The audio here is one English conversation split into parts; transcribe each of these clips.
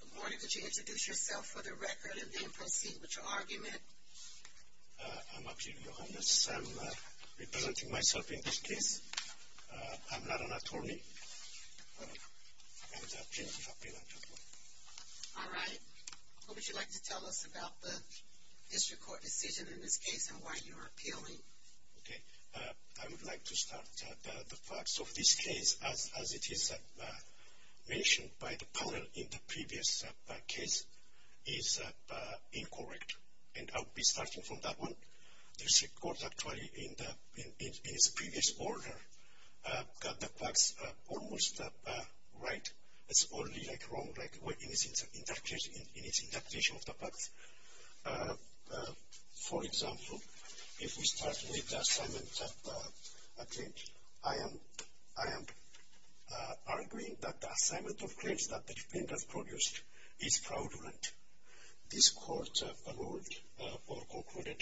Good morning, could you introduce yourself for the record and then proceed with your argument? I'm Aklil Yohannes. I'm representing myself in this case. I'm not an attorney. I'm the plaintiff's appeal attorney. All right. What would you like to tell us about the district court decision in this case and why you're appealing? I would like to start the facts of this case as it is mentioned by the panel in the previous case is incorrect. And I'll be starting from that one. The district court actually in its previous order got the facts almost right. It's only wrong in its interpretation of the facts. For example, if we start with the assignment of a claim, I am arguing that the assignment of claims that the defendant produced is fraudulent. This court ruled or concluded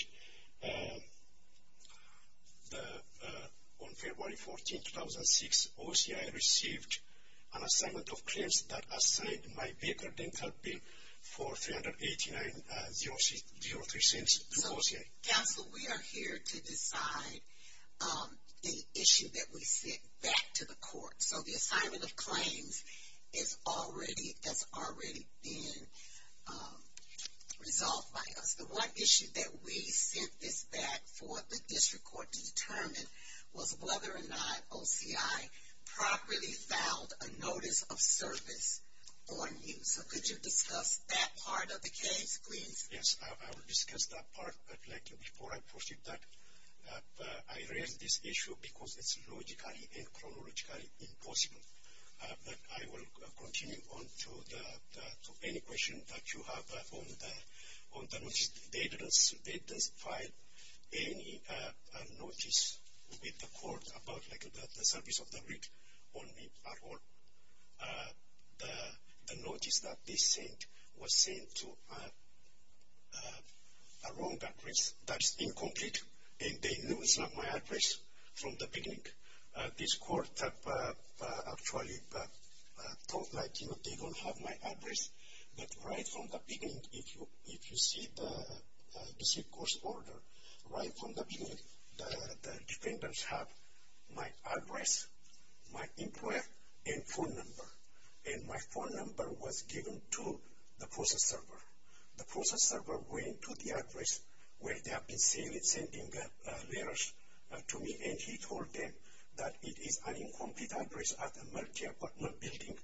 on February 14, 2006, OCI received an assignment of claims that assigned my vehicle dental bill for $389.03 to OCI. Counsel, we are here to decide the issue that we sent back to the court. So the assignment of claims has already been resolved by us. The one issue that we sent this back for the district court to determine was whether or not OCI properly filed a notice of service on you. So could you discuss that part of the case, please? Yes, I will discuss that part. But before I proceed that, I raise this issue because it's logically and chronologically impossible. But I will continue on to any question that you have on the notice. They didn't file any notice with the court about the service of the rig on me at all. The notice that they sent was sent to a wrong address. That's incomplete. They knew it's not my address from the beginning. This court actually talked like, you know, they don't have my address. But right from the beginning, if you see the district court's order, right from the beginning, the defendants have my address, my employer, and phone number. And my phone number was given to the process server. The process server went to the address where they have been sending letters to me, and he told them that it is an incomplete address at the multi-apartment building.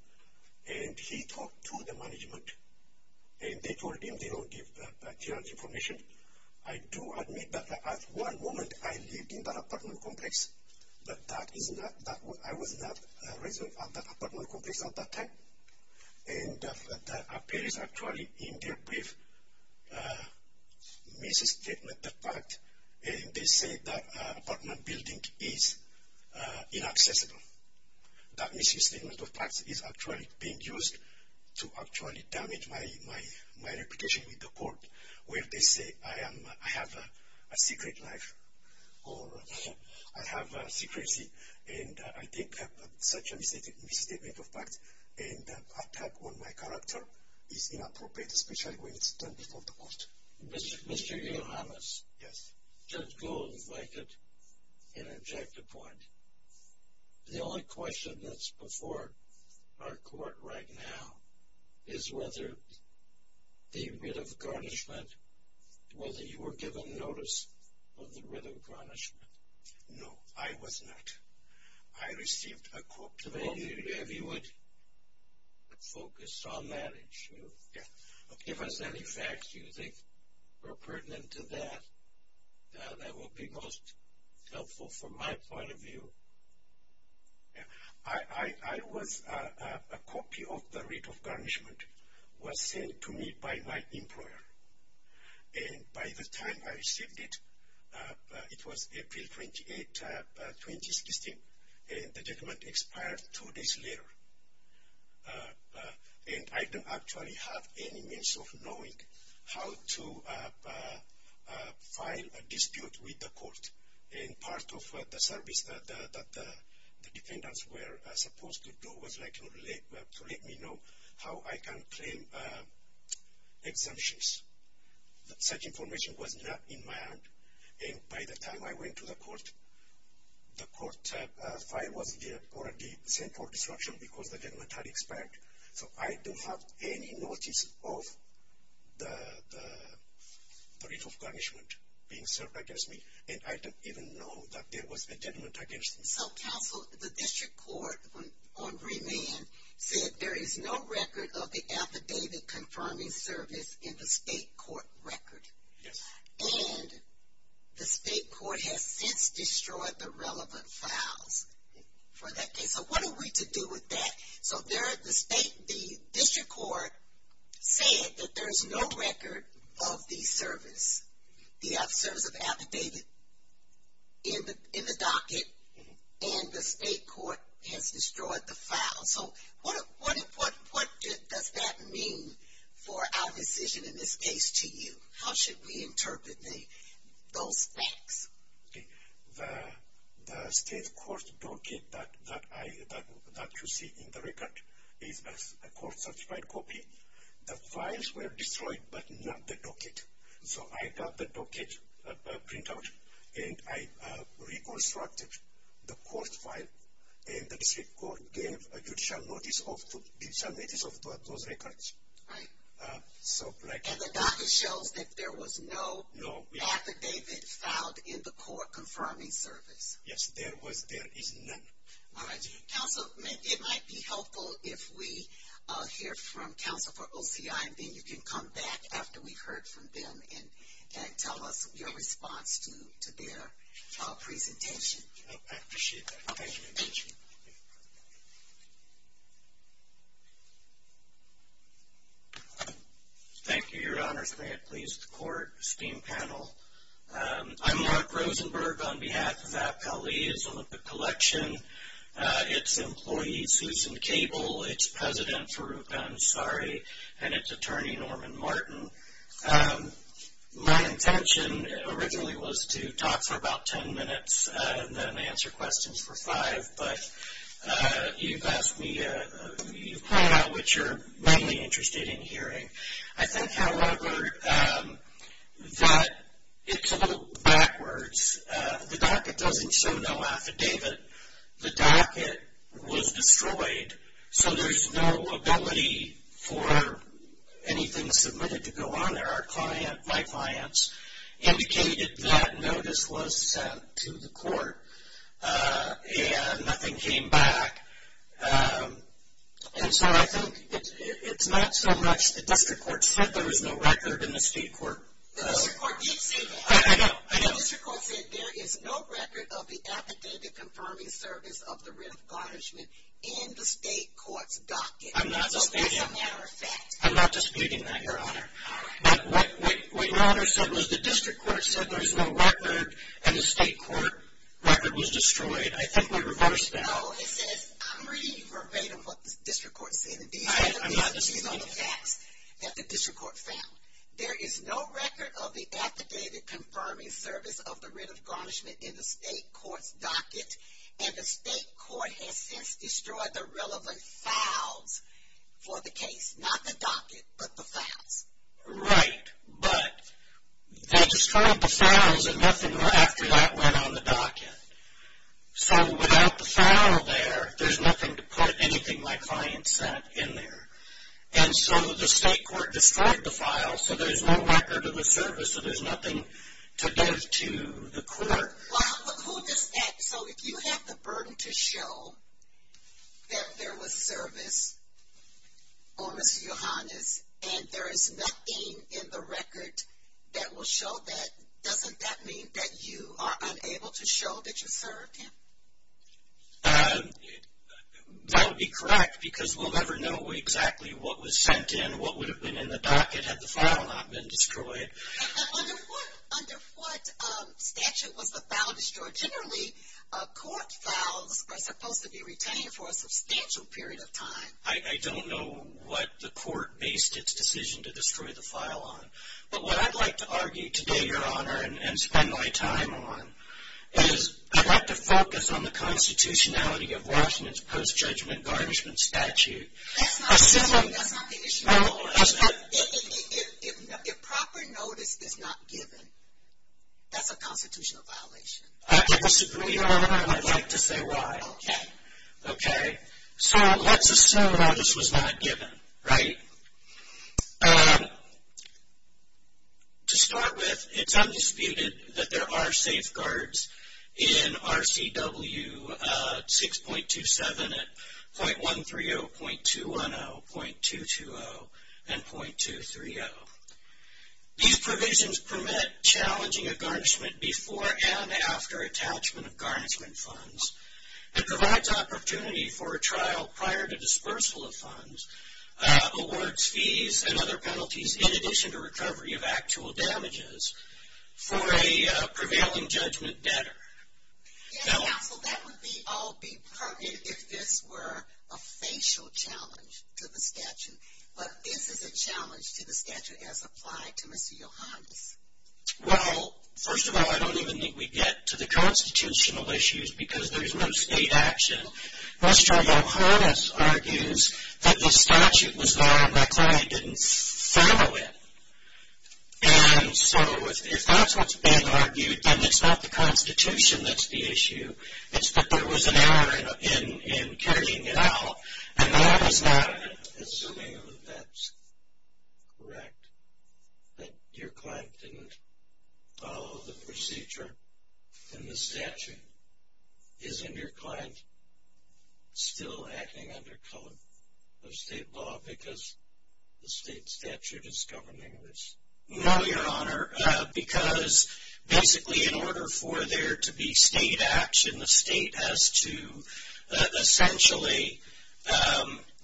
And he talked to the management, and they told him they don't give clearance information. I do admit that at one moment I lived in that apartment complex, but I was not resident of that apartment complex at that time. And that appears actually in their brief misstatement of fact, and they say that apartment building is inaccessible. That misstatement of fact is actually being used to actually damage my reputation with the court, where they say I have a secret life, or I have secrecy. And I think such a misstatement of fact and attack on my character is inappropriate, especially when it's done before the court. Mr. Yohannes? Yes. Judge Gold, if I could interject a point. The only question that's before our court right now is whether the writ of garnishment, whether you were given notice of the writ of garnishment. No, I was not. I received a quote today. If you would focus on that issue. Give us any facts you think are pertinent to that, that would be most helpful from my point of view. I was, a copy of the writ of garnishment was sent to me by my employer, and by the time I received it, it was April 28, 2016, and the judgment expired two days later. And I didn't actually have any means of knowing how to file a dispute with the court, and part of the service that the defendants were supposed to do was to let me know how I can claim exemptions. Such information was not in my hand, and by the time I went to the court, the court file was there, or it was sent for destruction because the judgment had expired. So I don't have any notice of the writ of garnishment being served against me, and I don't even know that there was a judgment against me. So counsel, the district court on remand said there is no record of the affidavit confirming service in the state court record. Yes. And the state court has since destroyed the relevant files for that case. So what are we to do with that? So the district court said that there is no record of the service, the service of affidavit in the docket, and the state court has destroyed the files. So what does that mean for our decision in this case to you? How should we interpret those facts? The state court docket that you see in the record is a court certified copy. The files were destroyed, but not the docket. So I got the docket printout, and I reconstructed the court file, and the district court gave a judicial notice of those records. Right. And the docket shows that there was no affidavit filed in the court confirming service. Yes, there is none. All right. Counsel, it might be helpful if we hear from counsel for OCI, and then you can come back after we've heard from them and tell us your response to their presentation. I appreciate that. Thank you. Thank you. Thank you, Your Honors. May it please the court, esteemed panel. I'm Mark Rosenberg on behalf of Appellee's Olympic Collection, its employee, Susan Cable, its president, Farouk Ansari, and its attorney, Norman Martin. My intention originally was to talk for about 10 minutes and then answer questions for five, but you've asked me, you've pointed out what you're mainly interested in hearing. I think, however, that it's a little backwards. The docket doesn't show no affidavit. The docket was destroyed, so there's no ability for anything submitted to go on there. My clients indicated that notice was sent to the court, and nothing came back. And so I think it's not so much the district court said there was no record in the state court. The district court didn't say that. I know, I know. The district court said there is no record of the affidavit confirming service of the writ of garnishment in the state court's docket. I'm not disputing that. As a matter of fact. I'm not disputing that, Your Honor. All right. What Your Honor said was the district court said there's no record, and the state court record was destroyed. I think we reversed that. No, it says I'm reading you verbatim what the district court said. I'm not disputing that. These are the facts that the district court found. There is no record of the affidavit confirming service of the writ of garnishment in the state court's docket, and the state court has since destroyed the relevant files for the case. Not the docket, but the files. Right, but they destroyed the files, and nothing after that went on the docket. So, without the file there, there's nothing to put anything my client said in there. And so, the state court destroyed the file, so there's no record of the service, so there's nothing to give to the court. Well, who does that? So, if you have the burden to show that there was service on Ms. Yohannes, and there is nothing in the record that will show that, doesn't that mean that you are unable to show that you served him? That would be correct, because we'll never know exactly what was sent in, what would have been in the docket had the file not been destroyed. Under what statute was the file destroyed? Generally, court files are supposed to be retained for a substantial period of time. I don't know what the court based its decision to destroy the file on. But what I'd like to argue today, Your Honor, and spend my time on, is I'd like to focus on the constitutionality of Washington's post-judgment garnishment statute. That's not the issue at all. If proper notice is not given, that's a constitutional violation. I disagree, Your Honor, and I'd like to say why. Okay. Okay. So, let's assume notice was not given, right? To start with, it's undisputed that there are safeguards in RCW 6.27, at .130, .210, .220, and .230. These provisions permit challenging a garnishment before and after attachment of garnishment funds, and provides opportunity for a trial prior to dispersal of funds, awards, fees, and other penalties, in addition to recovery of actual damages, for a prevailing judgment debtor. Yeah, so that would all be pertinent if this were a facial challenge to the statute. But this is a challenge to the statute as applied to Mr. Yohannes. Well, first of all, I don't even think we get to the constitutional issues because there is no state action. Mr. Yohannes argues that the statute was law and the client didn't follow it. And so, if that's what's being argued, then it's not the Constitution that's the issue. It's that there was an error in carrying it out, and that is not it. Assuming that that's correct, that your client didn't follow the procedure in the statute, isn't your client still acting under color of state law because the state statute is governing this? No, Your Honor, because basically in order for there to be state action, the state has to essentially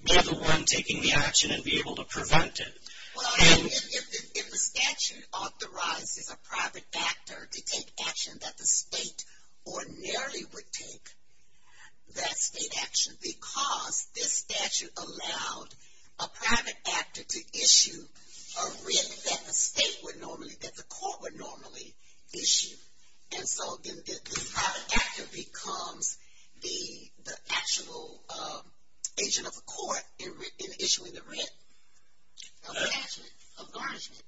be the one taking the action and be able to prevent it. Well, if the statute authorizes a private actor to take action that the state ordinarily would take, that's state action because this statute allowed a private actor to issue a writ that the state would normally, that the court would normally issue. And so, then this private actor becomes the actual agent of the court in issuing the writ of garnishment.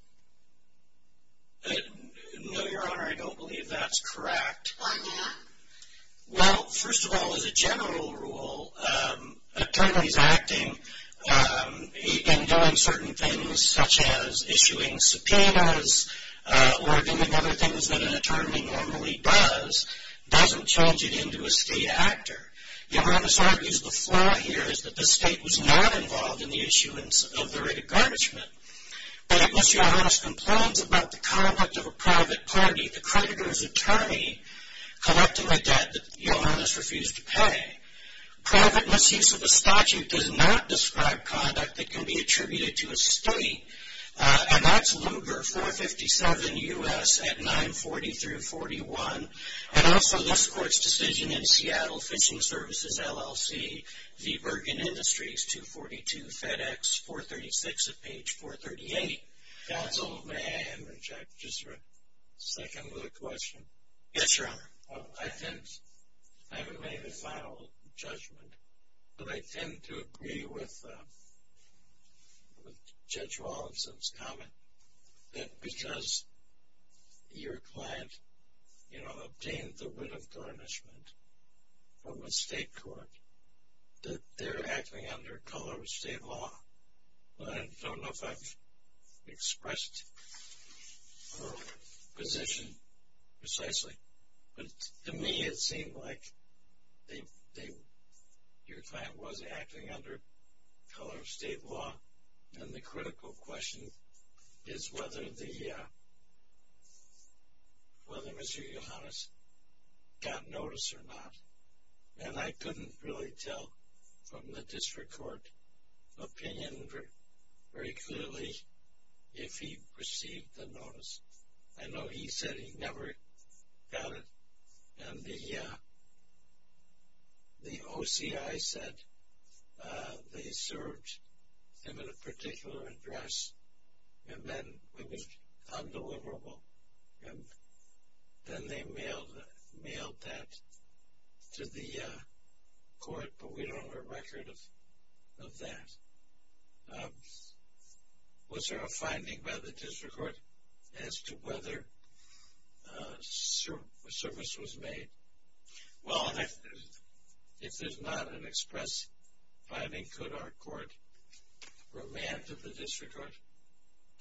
No, Your Honor, I don't believe that's correct. Why not? Well, first of all, as a general rule, attorneys acting and doing certain things such as issuing subpoenas or doing other things that an attorney normally does, doesn't change it into a state actor. Your Honor, this argues the flaw here is that the state was not involved in the issuance of the writ of garnishment, but it must, Your Honor, ask compliance about the conduct of a private party, the creditor's attorney, collecting a debt that Your Honor has refused to pay. Private misuse of the statute does not describe conduct that can be attributed to a state, and that's Lugar 457 U.S. at 940 through 41, and also this court's decision in Seattle Fishing Services LLC, the Bergen Industries 242 FedEx 436 at page 438. Counsel, may I interject just for a second with a question? Yes, Your Honor. I haven't made a final judgment, but I tend to agree with Judge Wallinson's comment that because your client, you know, obtained the writ of garnishment from a state court, that they're acting under color of state law. I don't know if I've expressed her position precisely, but to me it seemed like your client was acting under color of state law, and the critical question is whether Mr. Yohannes got notice or not, and I couldn't really tell from the district court opinion very clearly if he received the notice. I know he said he never got it, and the OCI said they served him at a particular address, and then it was undeliverable, and then they mailed that to the court, but we don't have a record of that. Was there a finding by the district court as to whether a service was made? Well, if there's not an express finding, could our court remand to the district court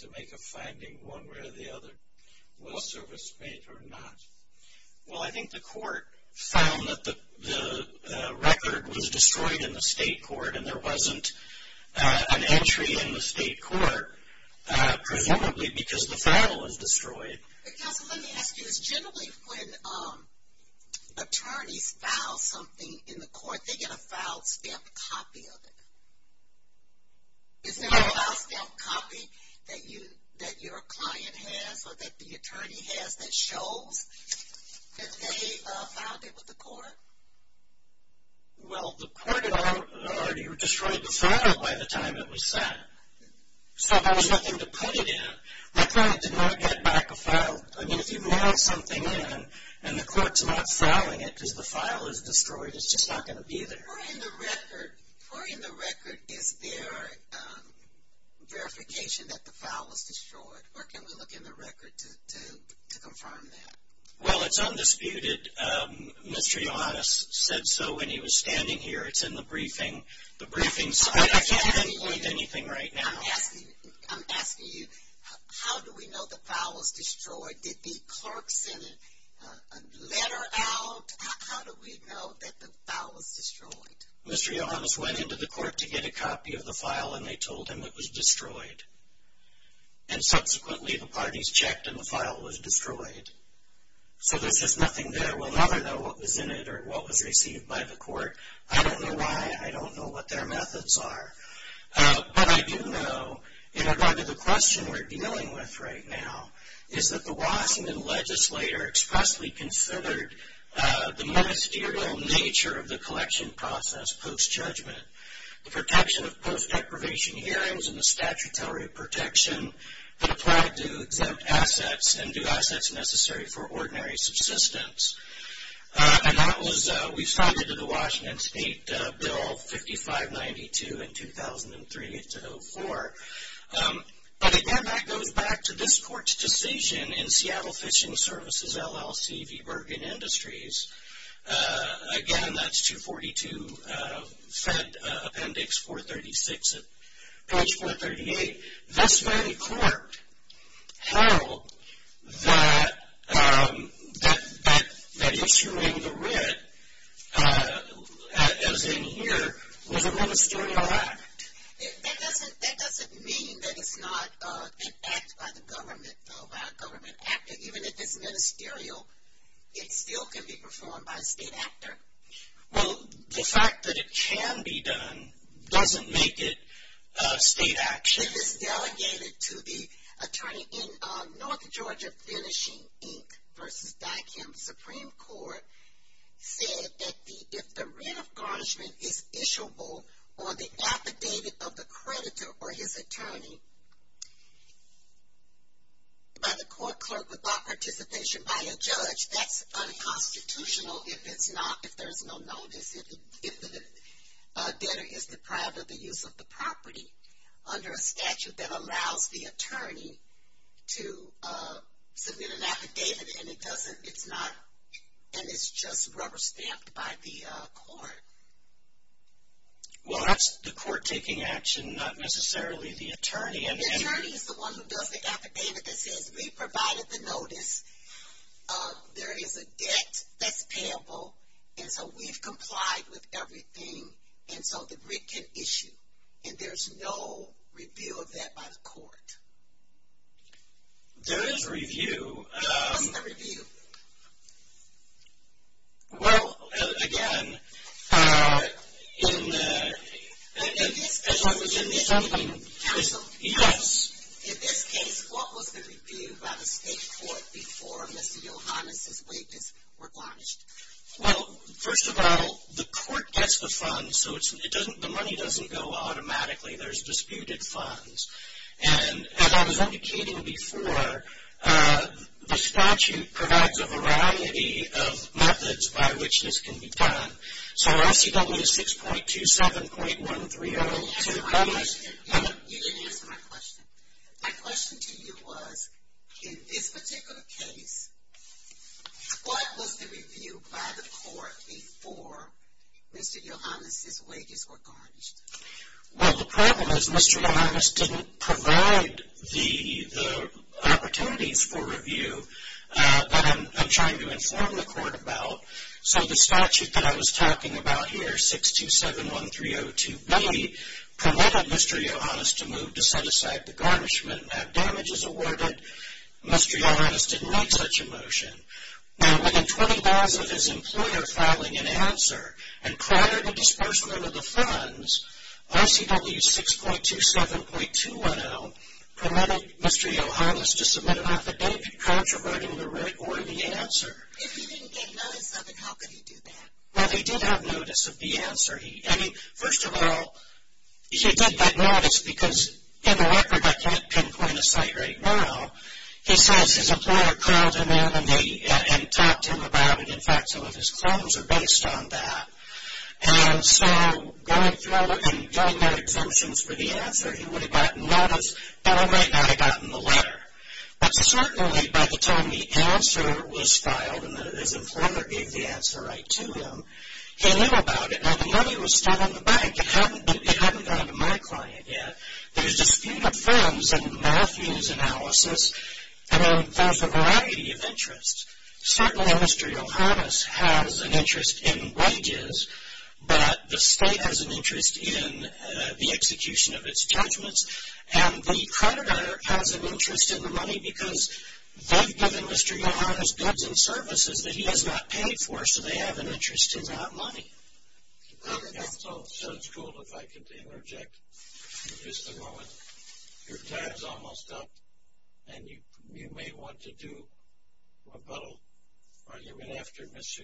to make a finding one way or the other, was service made or not? Well, I think the court found that the record was destroyed in the state court, and there wasn't an entry in the state court, presumably because the file was destroyed. Counsel, let me ask you, is generally when attorneys file something in the court, they get a file stamp copy of it? Is there a file stamp copy that your client has or that the attorney has that shows that they filed it with the court? Well, the court had already destroyed the file by the time it was sent, so there was nothing to put it in. My client did not get back a file. I mean, if you mail something in and the court's not filing it because the file is destroyed, it's just not going to be there. For in the record, is there verification that the file was destroyed, or can we look in the record to confirm that? Well, it's undisputed. Mr. Ioannis said so when he was standing here. It's in the briefing. I'm asking you, how do we know the file was destroyed? Did the clerk send a letter out? How do we know that the file was destroyed? Mr. Ioannis went into the court to get a copy of the file, and they told him it was destroyed. And subsequently, the parties checked, and the file was destroyed. So there's just nothing there. We'll never know what was in it or what was received by the court. I don't know why. I don't know what their methods are. But I do know, in regard to the question we're dealing with right now, is that the Washington legislator expressly considered the ministerial nature of the collection process post-judgment, the protection of post-deprivation hearings, and the statutory protection that applied to exempt assets and do assets necessary for ordinary subsistence. And that was, we found it in the Washington State Bill 5592 in 2003-04. But again, that goes back to this court's decision in Seattle Fishing Services LLC v. Bergen Industries. Again, that's 242 Fed Appendix 436 at page 438. This very court held that issuing the writ as in here was a ministerial act. That doesn't mean that it's not an act by the government, though, by a government actor. Even if it's ministerial, it still can be performed by a state actor. Well, the fact that it can be done doesn't make it state action. If it's delegated to the attorney in North Georgia Finishing, Inc. v. Dykem Supreme Court, said that if the writ of garnishment is issuable on the affidavit of the creditor or his attorney by the court clerk without participation by a judge, that's unconstitutional if it's not, if there's no notice, if the debtor is deprived of the use of the property under a statute that allows the attorney to submit an affidavit and it doesn't, it's not, and it's just rubber stamped by the court. Well, that's the court taking action, not necessarily the attorney. The attorney is the one who does the affidavit that says we provided the notice. There is a debt that's payable, and so we've complied with everything, and so the writ can issue, and there's no review of that by the court. There is a review. What's the review? Well, again, in this case, what was the review by the state court? Well, first of all, the court gets the funds, so it doesn't, the money doesn't go automatically. There's disputed funds, and as I was indicating before, the statute provides a variety of methods by which this can be done, so RCW 6.27.1302. You didn't answer my question. My question to you was, in this particular case, what was the review by the court before Mr. Yohannes' wages were garnished? Well, the problem is Mr. Yohannes didn't provide the opportunities for review that I'm trying to inform the court about, so the statute that I was talking about here, 6.27.6271302B, permitted Mr. Yohannes to move to set aside the garnishment. Now, damage is awarded. Mr. Yohannes didn't make such a motion. Now, within 20 days of his employer filing an answer and prior to disbursement of the funds, RCW 6.27.210 permitted Mr. Yohannes to submit an affidavit controverting the writ or the answer. If he didn't get notice of it, how could he do that? Well, he did have notice of the answer. First of all, he did that notice because, in the record, I can't pinpoint a site right now. He says his employer called him in and talked to him about it. In fact, some of his claims are based on that. And so going through all that and drawing out exemptions for the answer, he would have gotten notice and I might not have gotten the letter. But certainly by the time the answer was filed and his employer gave the answer right to him, he knew about it. Now, the money was still on the bank. It hadn't gone to my client yet. There's dispute of funds and malthuse analysis, and there's a variety of interests. Certainly, Mr. Yohannes has an interest in wages, but the state has an interest in the execution of its judgments, and the creditor has an interest in the money because they've given Mr. Yohannes goods and services that he has not paid for, so they have an interest in that money. So it's cool if I can interject just a moment. Your time is almost up, and you may want to do a little argument after Mr.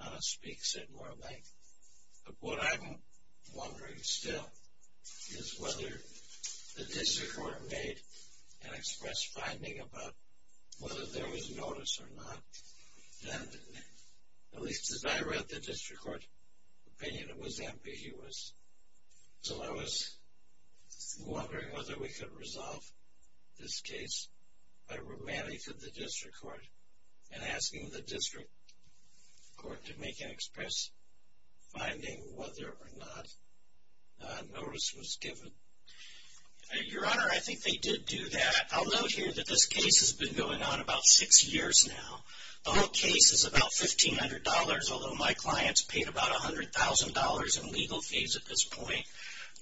Yohannes speaks at more length. But what I'm wondering still is whether the district court made an express finding about whether there was notice or not. And at least as I read the district court opinion, it was ambiguous. So I was wondering whether we could resolve this case by remanding to the district court and asking the district court to make an express finding whether or not notice was given. Your Honor, I think they did do that. I'll note here that this case has been going on about six years now. The whole case is about $1,500, although my client's paid about $100,000 in legal fees at this point.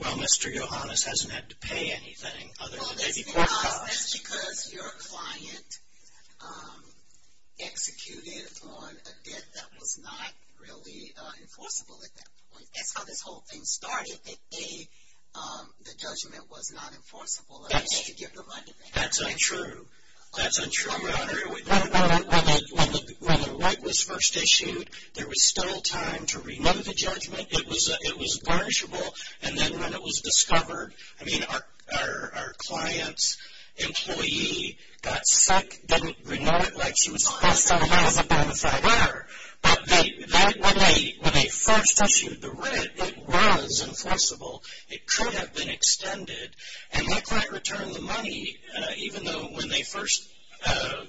Well, Mr. Yohannes hasn't had to pay anything other than maybe court costs. That's because your client executed on a debt that was not really enforceable at that point. That's how this whole thing started. The judgment was not enforceable. That's untrue. That's untrue, Your Honor. When the right was first issued, there was still time to renew the judgment. It was burnishable. And then when it was discovered, I mean, our client's employee got sick, didn't renew it like she was supposed to, and that was a burnishable error. But when they first issued the writ, it was enforceable. It could have been extended. And my client returned the money, even though when they first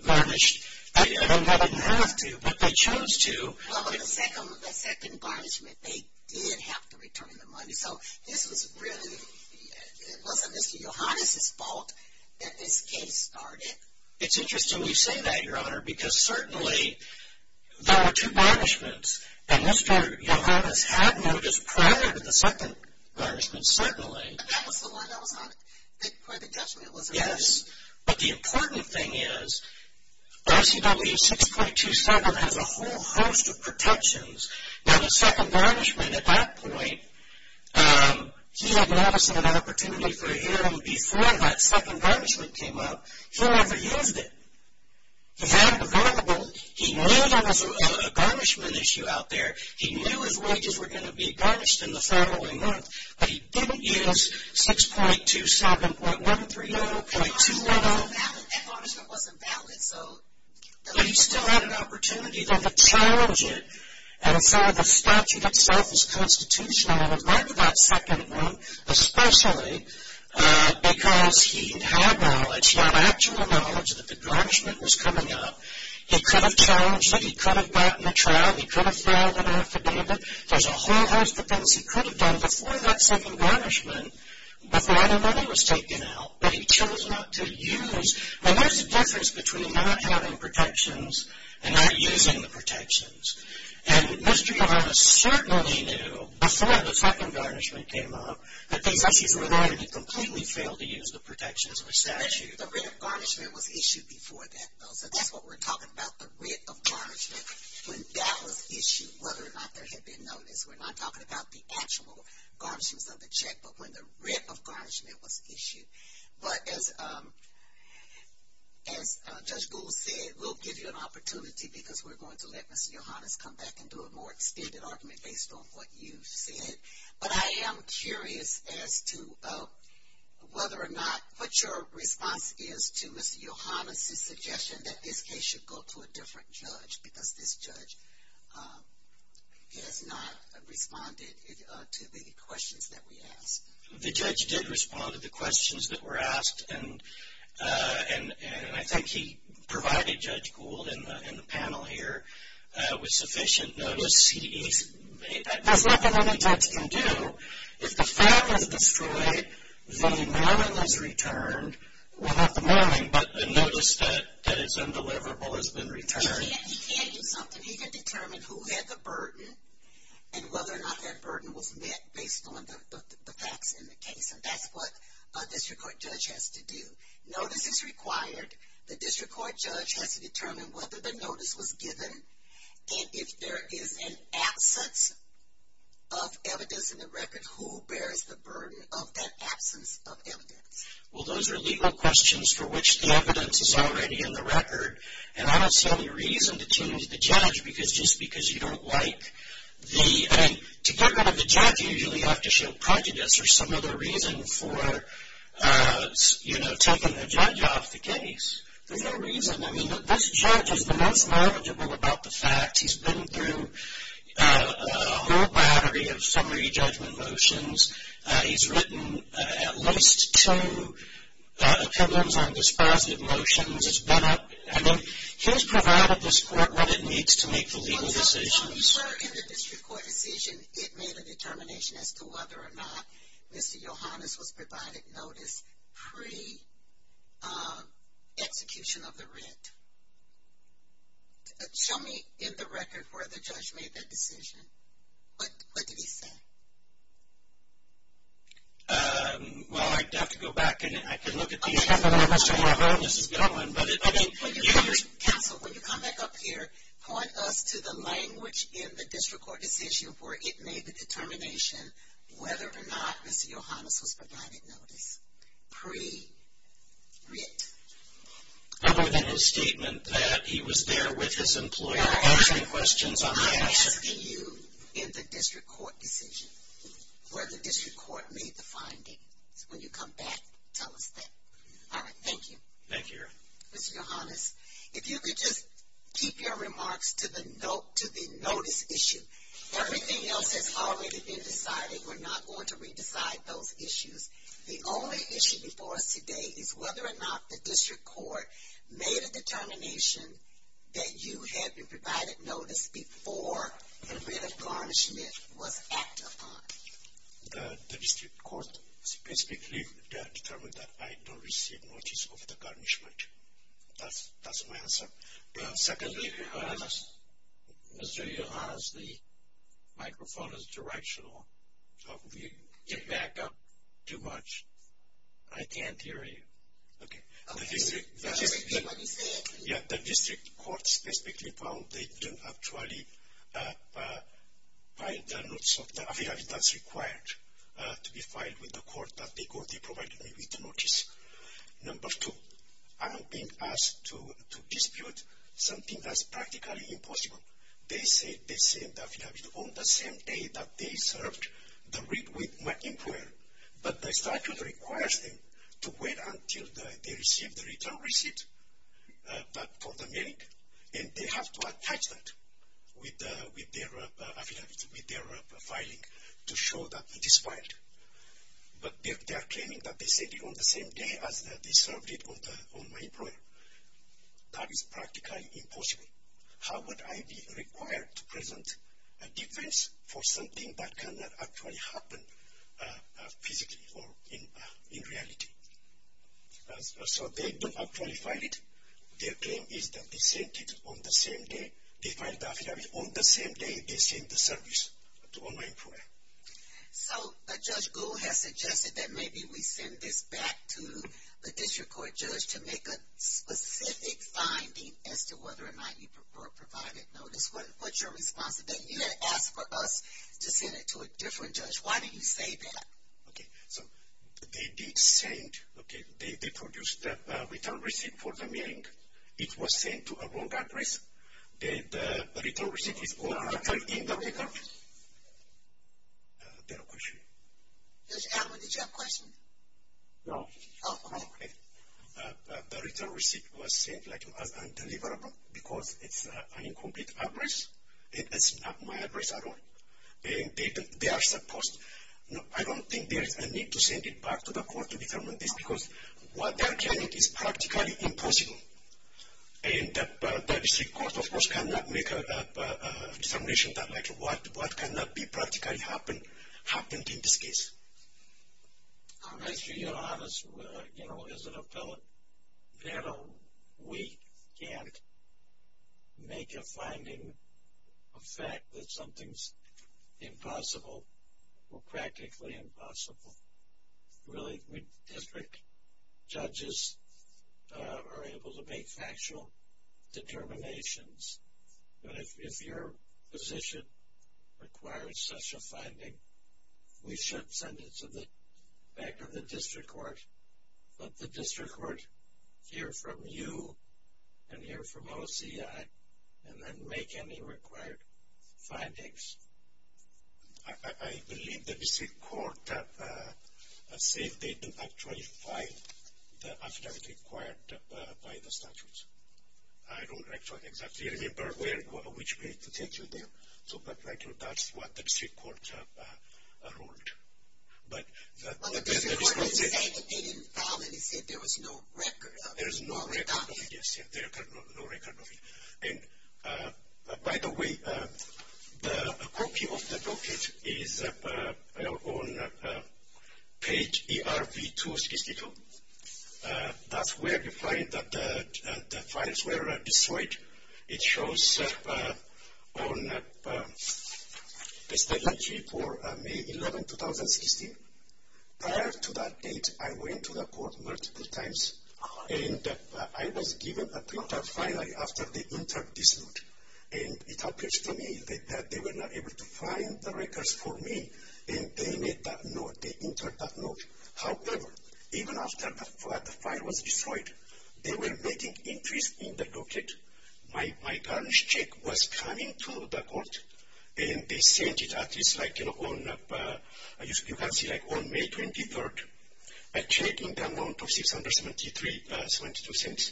burnished, they didn't have to, but they chose to. The second burnishment, they did have to return the money. So this was really, it wasn't Mr. Yohannes' fault that this case started. It's interesting you say that, Your Honor, because certainly there were two burnishments, and Mr. Yohannes had noticed prior to the second burnishment, certainly. That was the one. That was where the judgment was. But the important thing is, OCW 6.27 has a whole host of protections. Now, the second burnishment at that point, he had noticed an opportunity for a hearing before that second burnishment came up. He never used it. He had the variable. He knew there was a burnishment issue out there. He knew his wages were going to be burnished in the following month, but he didn't use 6.27, .130, .210. That burnishment wasn't valid. But he still had an opportunity to challenge it. And so the statute itself is constitutional. And in light of that second one, especially because he had knowledge, he had actual knowledge that the burnishment was coming up, he could have challenged it. He could have gotten a trial. He could have filed an affidavit. There's a whole host of things he could have done before that second burnishment, before the money was taken out. But he chose not to use. And there's a difference between not having protections and not using the protections. And Mr. Yavanna certainly knew, before the second burnishment came up, that these issues were going to be completely filled to use the protections of the statute. The writ of burnishment was issued before that, though. So that's what we're talking about, the writ of burnishment, when that was issued, whether or not there had been notice. We're not talking about the actual garnishments of the check, but when the writ of burnishment was issued. But as Judge Gould said, we'll give you an opportunity because we're going to let Mr. Yovanas come back and do a more extended argument based on what you've said. But I am curious as to whether or not what your response is to Mr. Yovanas' suggestion that this case should go to a different judge because this judge has not responded to the questions that we asked. The judge did respond to the questions that were asked. And I think he provided Judge Gould and the panel here with sufficient notice. There's nothing any judge can do. If the firm is destroyed, the mailing is returned. Well, not the mailing, but the notice that is undeliverable has been returned. He can do something. He can determine who had the burden and whether or not that burden was met based on the facts in the case. And that's what a district court judge has to do. Notice is required. The district court judge has to determine whether the notice was given. And if there is an absence of evidence in the record, who bears the burden of that absence of evidence? Well, those are legal questions for which the evidence is already in the record. And I don't see any reason to change the judge because just because you don't like the – I mean, to get rid of the judge, you usually have to show prejudice or some other reason for, you know, taking the judge off the case. There's no reason. I mean, this judge has been less knowledgeable about the facts. He's been through a whole battery of summary judgment motions. He's written at least two opinions on dispositive motions. It's been a – I mean, he's provided this court what it needs to make the legal decisions. So when you were in the district court decision, it made a determination as to whether or not Mr. Yohannes was provided notice pre-execution of the writ. Show me in the record where the judge made that decision. What did he say? Well, I'd have to go back and I can look at the – Okay. I don't know where Mr. Yohannes is going. Counsel, when you come back up here, point us to the language in the district court decision where it made the determination whether or not Mr. Yohannes was provided notice pre-writ. Other than his statement that he was there with his employer asking questions on the execution. I'm asking you in the district court decision where the district court made the findings. When you come back, tell us that. Thank you. Thank you, Your Honor. Mr. Yohannes, if you could just keep your remarks to the notice issue. Everything else has already been decided. We're not going to re-decide those issues. The only issue before us today is whether or not the district court made a determination that you had been provided notice before the writ of garnishment was acted upon. The district court specifically determined that I don't receive notice of the garnishment. That's my answer. Secondly, Mr. Yohannes, the microphone is directional. If you get back up too much, I can't hear you. Okay. What did he say? Yeah, the district court specifically found they didn't actually file the notice of the affidavit that's required to be filed with the court that they provided me with notice. Number two, I'm being asked to dispute something that's practically impossible. They said the affidavit on the same day that they served the writ with my employer, but the statute requires them to wait until they receive the return receipt for the mailing, and they have to attach that with their affidavit, with their filing, to show that it is filed. But they are claiming that they said it on the same day as they served it on my employer. That is practically impossible. How would I be required to present a defense for something that cannot actually happen physically or in reality? So they don't actually file it. Their claim is that they sent it on the same day they filed the affidavit, on the same day they sent the service to my employer. So Judge Gould has suggested that maybe we send this back to the district court judge to make a specific finding as to whether or not you provided notice. What's your response to that? You had asked for us to send it to a different judge. Why did you say that? Okay, so they did send, okay, they produced the return receipt for the mailing. It was sent to a wrong address. The return receipt is actually in the record. Do you have a question? Yes, Alvin, did you have a question? No. Oh, okay. The return receipt was sent as undeliverable because it's an incomplete address. It's not my address at all. They are supposed, I don't think there is a need to send it back to the court to determine this because what they are claiming is practically impossible. And the district court, of course, cannot make a determination that like what cannot be practically happened in this case. To be honest, you know, as an appellate panel, we can't make a finding of fact that something's impossible or practically impossible. Really, district judges are able to make factual determinations. But if your position requires such a finding, we should send it to the back of the district court. Let the district court hear from you and hear from OCI and then make any required findings. I believe the district court said they didn't actually file the affidavit required by the statute. I don't actually exactly remember which way to take you there. But that's what the district court ruled. Well, the district court didn't say that they didn't file it. It said there was no record of it. There is no record of it, yes. There is no record of it. And, by the way, the copy of the booklet is on page ERV2. That's where you find that the files were destroyed. It shows on the statute for May 11, 2016. Prior to that date, I went to the court multiple times. And I was given a printer finally after they entered this note. And it appears to me that they were not able to find the records for me. And they made that note. They entered that note. However, even after the file was destroyed, they were making entries in the booklet. My garnish check was coming to the court. And they sent it at least like, you know, on May 23rd. A check in the amount of $673.72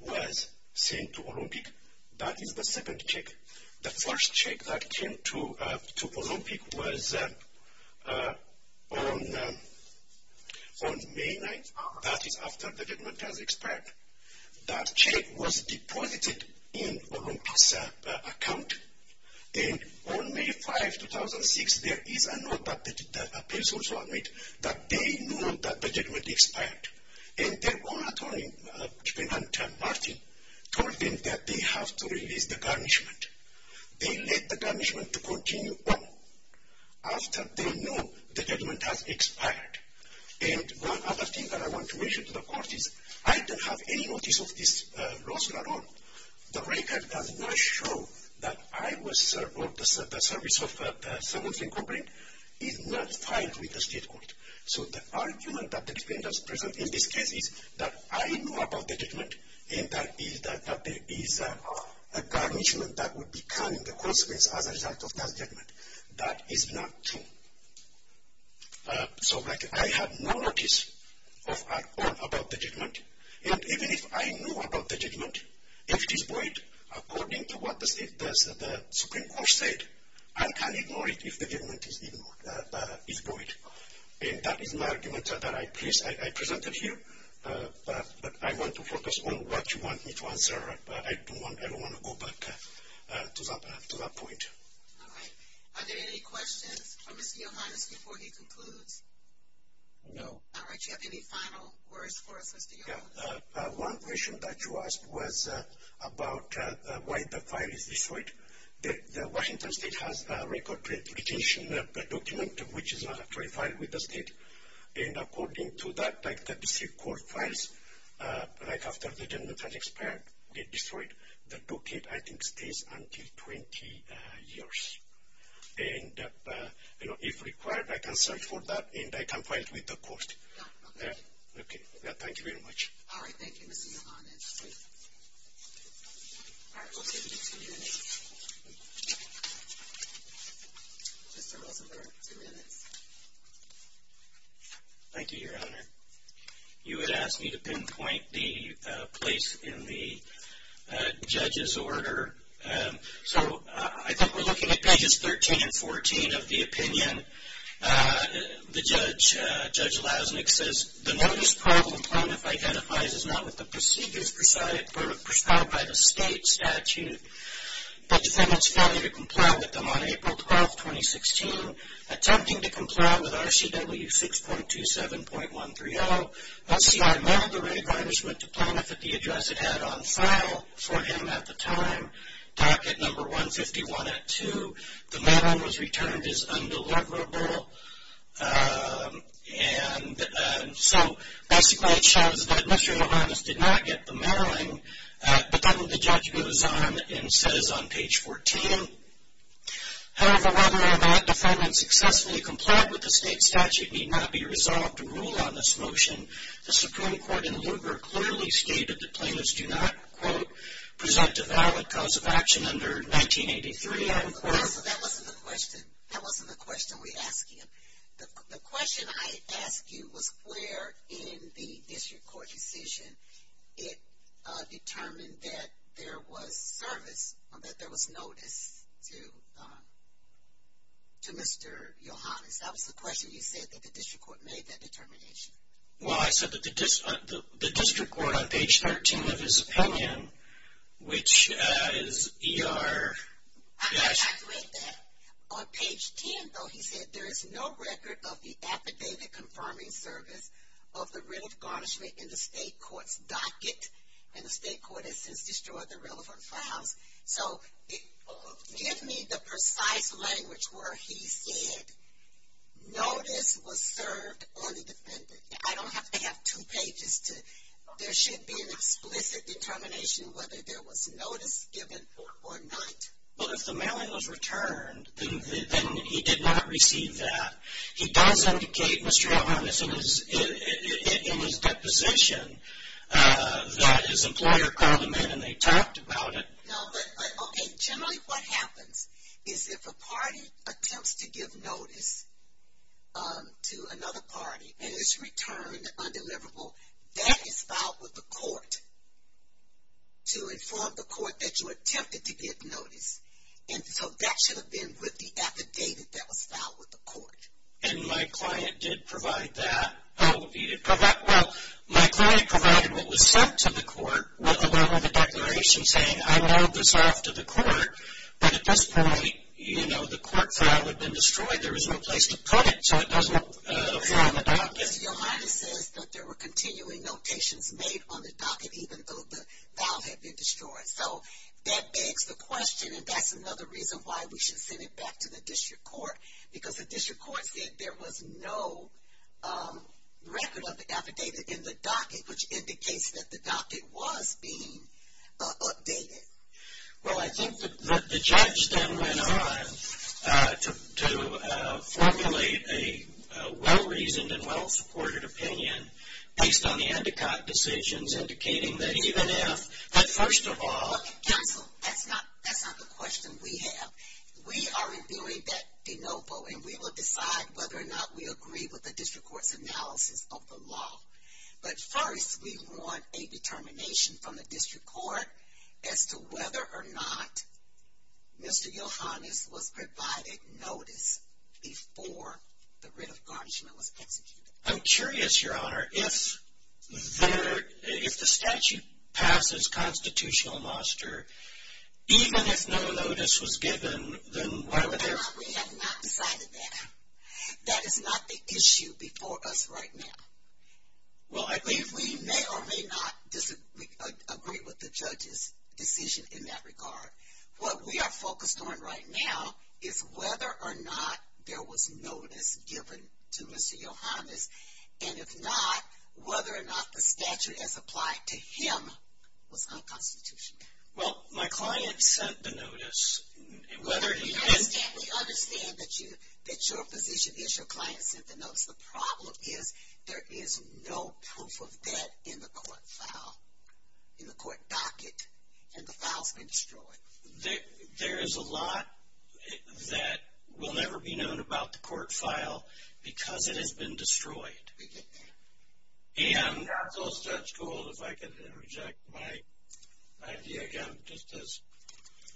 was sent to Olympic. That is the second check. The first check that came to Olympic was on May 9th. That is after the judgment has expired. That check was deposited in Olympic's account. And on May 5, 2006, there is a note that appears to also admit that they knew that the judgment expired. And their own attorney, Martin, told them that they have to release the garnishment. They let the garnishment to continue on after they knew the judgment has expired. And one other thing that I want to mention to the court is I don't have any notice of this lawsuit at all. The record does not show that I was served or the service of someone's incumbent is not filed with the state court. So the argument that the defendants present in this case is that I knew about the judgment and that there is a garnishment that would become the consequence as a result of that judgment. That is not true. So, like, I have no notice at all about the judgment. And even if I knew about the judgment, if it is void, according to what the Supreme Court said, I can ignore it if the judgment is void. And that is my argument that I presented here. But I want to focus on what you want me to answer. I don't want to go back to that point. All right. Are there any questions for Mr. Yohannes before he concludes? No. All right. Do you have any final words for us, Mr. Yohannes? Yeah. One question that you asked was about why the file is destroyed. The Washington State has a record of litigation document which is not actually filed with the state. And according to that, like the district court files, right after the judgment has expired, get destroyed, the docket, I think, stays until 20 years. And, you know, if required, I can search for that and I can find it with the court. Okay. Thank you very much. All right. Thank you, Mr. Yohannes. All right. We'll give you two minutes. Mr. Rosenberg, two minutes. Thank you, Your Honor. You had asked me to pinpoint the place in the judge's order. So I think we're looking at pages 13 and 14 of the opinion. The judge, Judge Lasnik, says, The notice problem Planoff identifies is not with the procedures presided by the state statute. The defendant's failure to comply with them on April 12, 2016, attempting to comply with RCW 6.27.130, while C.I. Mellon, the re-adviser, went to Planoff at the address it had on file for him at the time, Docket No. 151 at 2. The mail-in was returned as undeliverable. And so basically it shows that Mr. Yohannes did not get the mail-in, but then the judge goes on and says on page 14, However, whether or not the defendant successfully complied with the state statute need not be resolved to rule on this motion. The Supreme Court in Luber clearly stated that Planoffs do not, quote, present a valid cause of action under 1983, unquote. So that wasn't the question. That wasn't the question we asked you. The question I asked you was where in the district court decision it determined that there was service or that there was notice to Mr. Yohannes. That was the question. You said that the district court made that determination. Well, I said that the district court on page 13 of his opinion, which is ER- I did not read that. On page 10, though, he said there is no record of the affidavit confirming service of the writ of garnishment in the state court's docket, and the state court has since destroyed the relevant files. So give me the precise language where he said notice was served on the defendant. I don't have to have two pages to- there should be an explicit determination whether there was notice given or not. Well, if the mail-in was returned, then he did not receive that. He does indicate, Mr. Yohannes, in his deposition, that his employer called him in and they talked about it. No, but, okay, generally what happens is if a party attempts to give notice to another party and it's returned undeliverable, that is filed with the court to inform the court that you attempted to give notice. And so that should have been with the affidavit that was filed with the court. And my client did provide that. Oh, he did provide-well, my client provided what was sent to the court, with the declaration saying I have this after the court. But at this point, you know, the court file had been destroyed. There was no place to put it, so it doesn't appear on the docket. Mr. Yohannes says that there were continuing notations made on the docket, even though the file had been destroyed. So that begs the question, and that's another reason why we should send it back to the district court, because the district court said there was no record of the affidavit in the docket, which indicates that the docket was being updated. Well, I think that the judge then went on to formulate a well-reasoned and well-supported opinion based on the Endicott decisions, indicating that even if-but first of all- Counsel, that's not the question we have. We are reviewing that de novo, and we will decide whether or not we agree with the district court's analysis of the law. But first we want a determination from the district court as to whether or not Mr. Yohannes was provided notice before the writ of garnishment was executed. I'm curious, Your Honor, if there- if the statute passes constitutional monster, even if no notice was given, then why would there- Your Honor, we have not decided that. That is not the issue before us right now. Well, I believe- We may or may not agree with the judge's decision in that regard. What we are focused on right now is whether or not there was notice given to Mr. Yohannes, and if not, whether or not the statute as applied to him was unconstitutional. Well, my client sent the notice. Whether- We understand that your position is your client sent the notice. The problem is there is no proof of that in the court file, in the court docket, and the file's been destroyed. There is a lot that will never be known about the court file because it has been destroyed. And- Counsel, Judge Gould, if I could interject. My idea, again, just as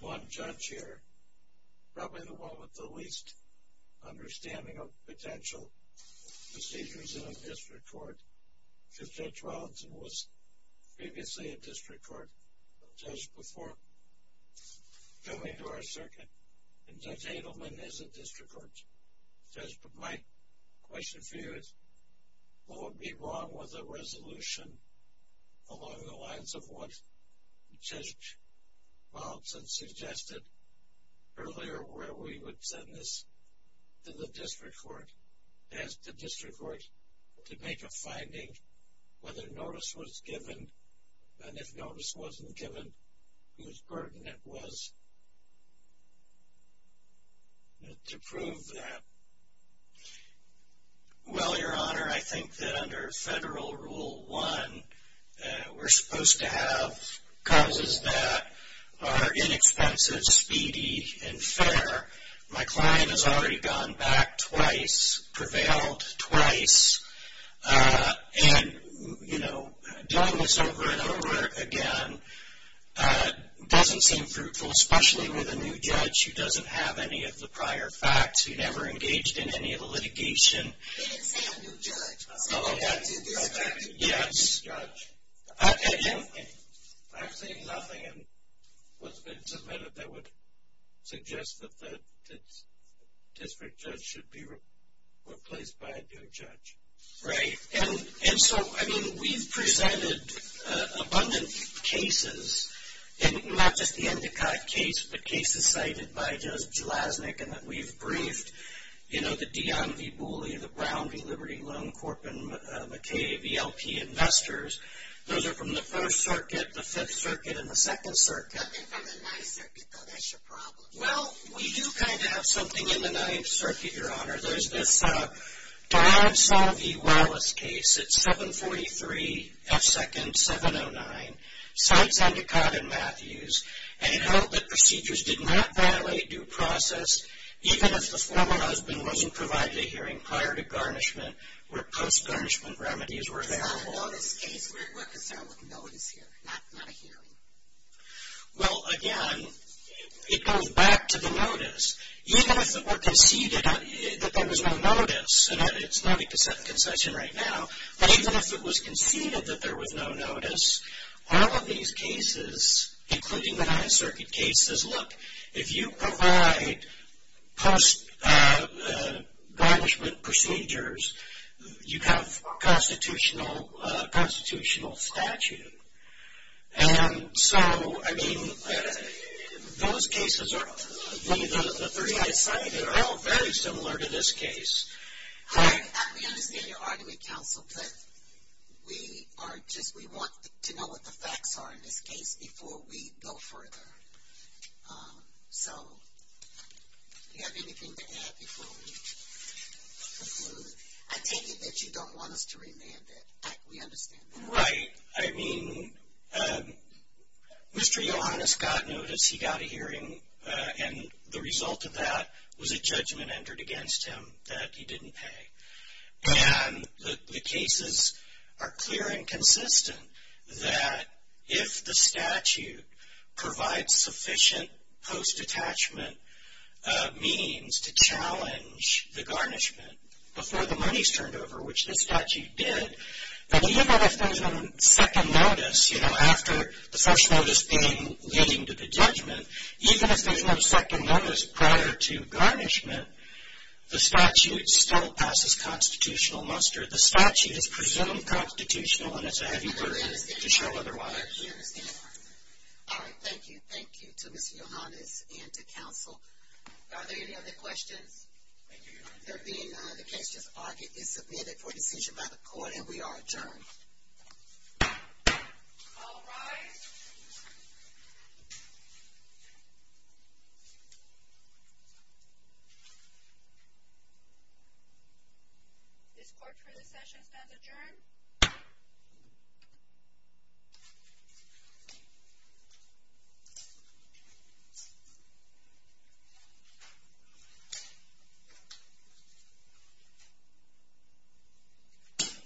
one judge here, probably the one with the least understanding of potential procedures in a district court, because Judge Rollins was previously a district court judge before coming to our circuit, and Judge Adelman is a district court judge. But my question for you is, what would be wrong with a resolution along the lines of what Judge Rollins suggested earlier where we would send this to the district court, ask the district court to make a finding whether notice was given, and if notice wasn't given, whose burden it was, to prove that? Well, Your Honor, I think that under Federal Rule 1, we're supposed to have causes that are inexpensive, speedy, and fair. My client has already gone back twice, prevailed twice. And, you know, doing this over and over again doesn't seem fruitful, especially with a new judge who doesn't have any of the prior facts, who never engaged in any of the litigation. He didn't say a new judge. Oh, okay. He didn't say a new judge. Okay. I'm saying nothing in what's been submitted that would suggest that the district judge should be replaced by a new judge. Right. And so, I mean, we've presented abundant cases, and not just the Endicott case, but cases cited by Judge Jelaznik, and that we've briefed, you know, the Dionne v. Booley, the Brown v. Liberty Loan Corp., and McKay v. LP Investors. Those are from the First Circuit, the Fifth Circuit, and the Second Circuit. Nothing from the Ninth Circuit, though. That's your problem. Well, we do kind of have something in the Ninth Circuit, Your Honor. There's this Todd Solvey Wallace case. It's 743 F. 2nd. 709. Cites Endicott and Matthews, and it held that procedures did not violate due process, even if the former husband wasn't provided a hearing prior to garnishment where post-garnishment remedies were available. We're concerned with notice here, not a hearing. Well, again, it goes back to the notice. Even if it were conceded that there was no notice, and it's not a concession right now, but even if it was conceded that there was no notice, all of these cases, including the Ninth Circuit cases, look, if you provide post-garnishment procedures, you have constitutional statute. And so, I mean, those cases are all very similar to this case. We understand your argument, counsel, but we want to know what the facts are in this case before we go further. So, do you have anything to add before we conclude? I take it that you don't want us to remand it. We understand that. Right. I mean, Mr. Yohannes got notice, he got a hearing, and the result of that was a judgment entered against him that he didn't pay. And the cases are clear and consistent that if the statute provides sufficient post-detachment means to challenge the garnishment before the money's turned over, which the statute did, that even if there's no second notice, you know, after the first notice being leading to the judgment, even if there's no second notice prior to garnishment, the statute still passes constitutional muster. The statute is presumed constitutional, and it's a heavy burden to show otherwise. We understand. All right. Thank you. Thank you to Mr. Yohannes and to counsel. Are there any other questions? Thank you, Your Honor. There being none, the case is submitted for decision by the court, and we are adjourned. All rise. This court for the session stands adjourned. Thank you.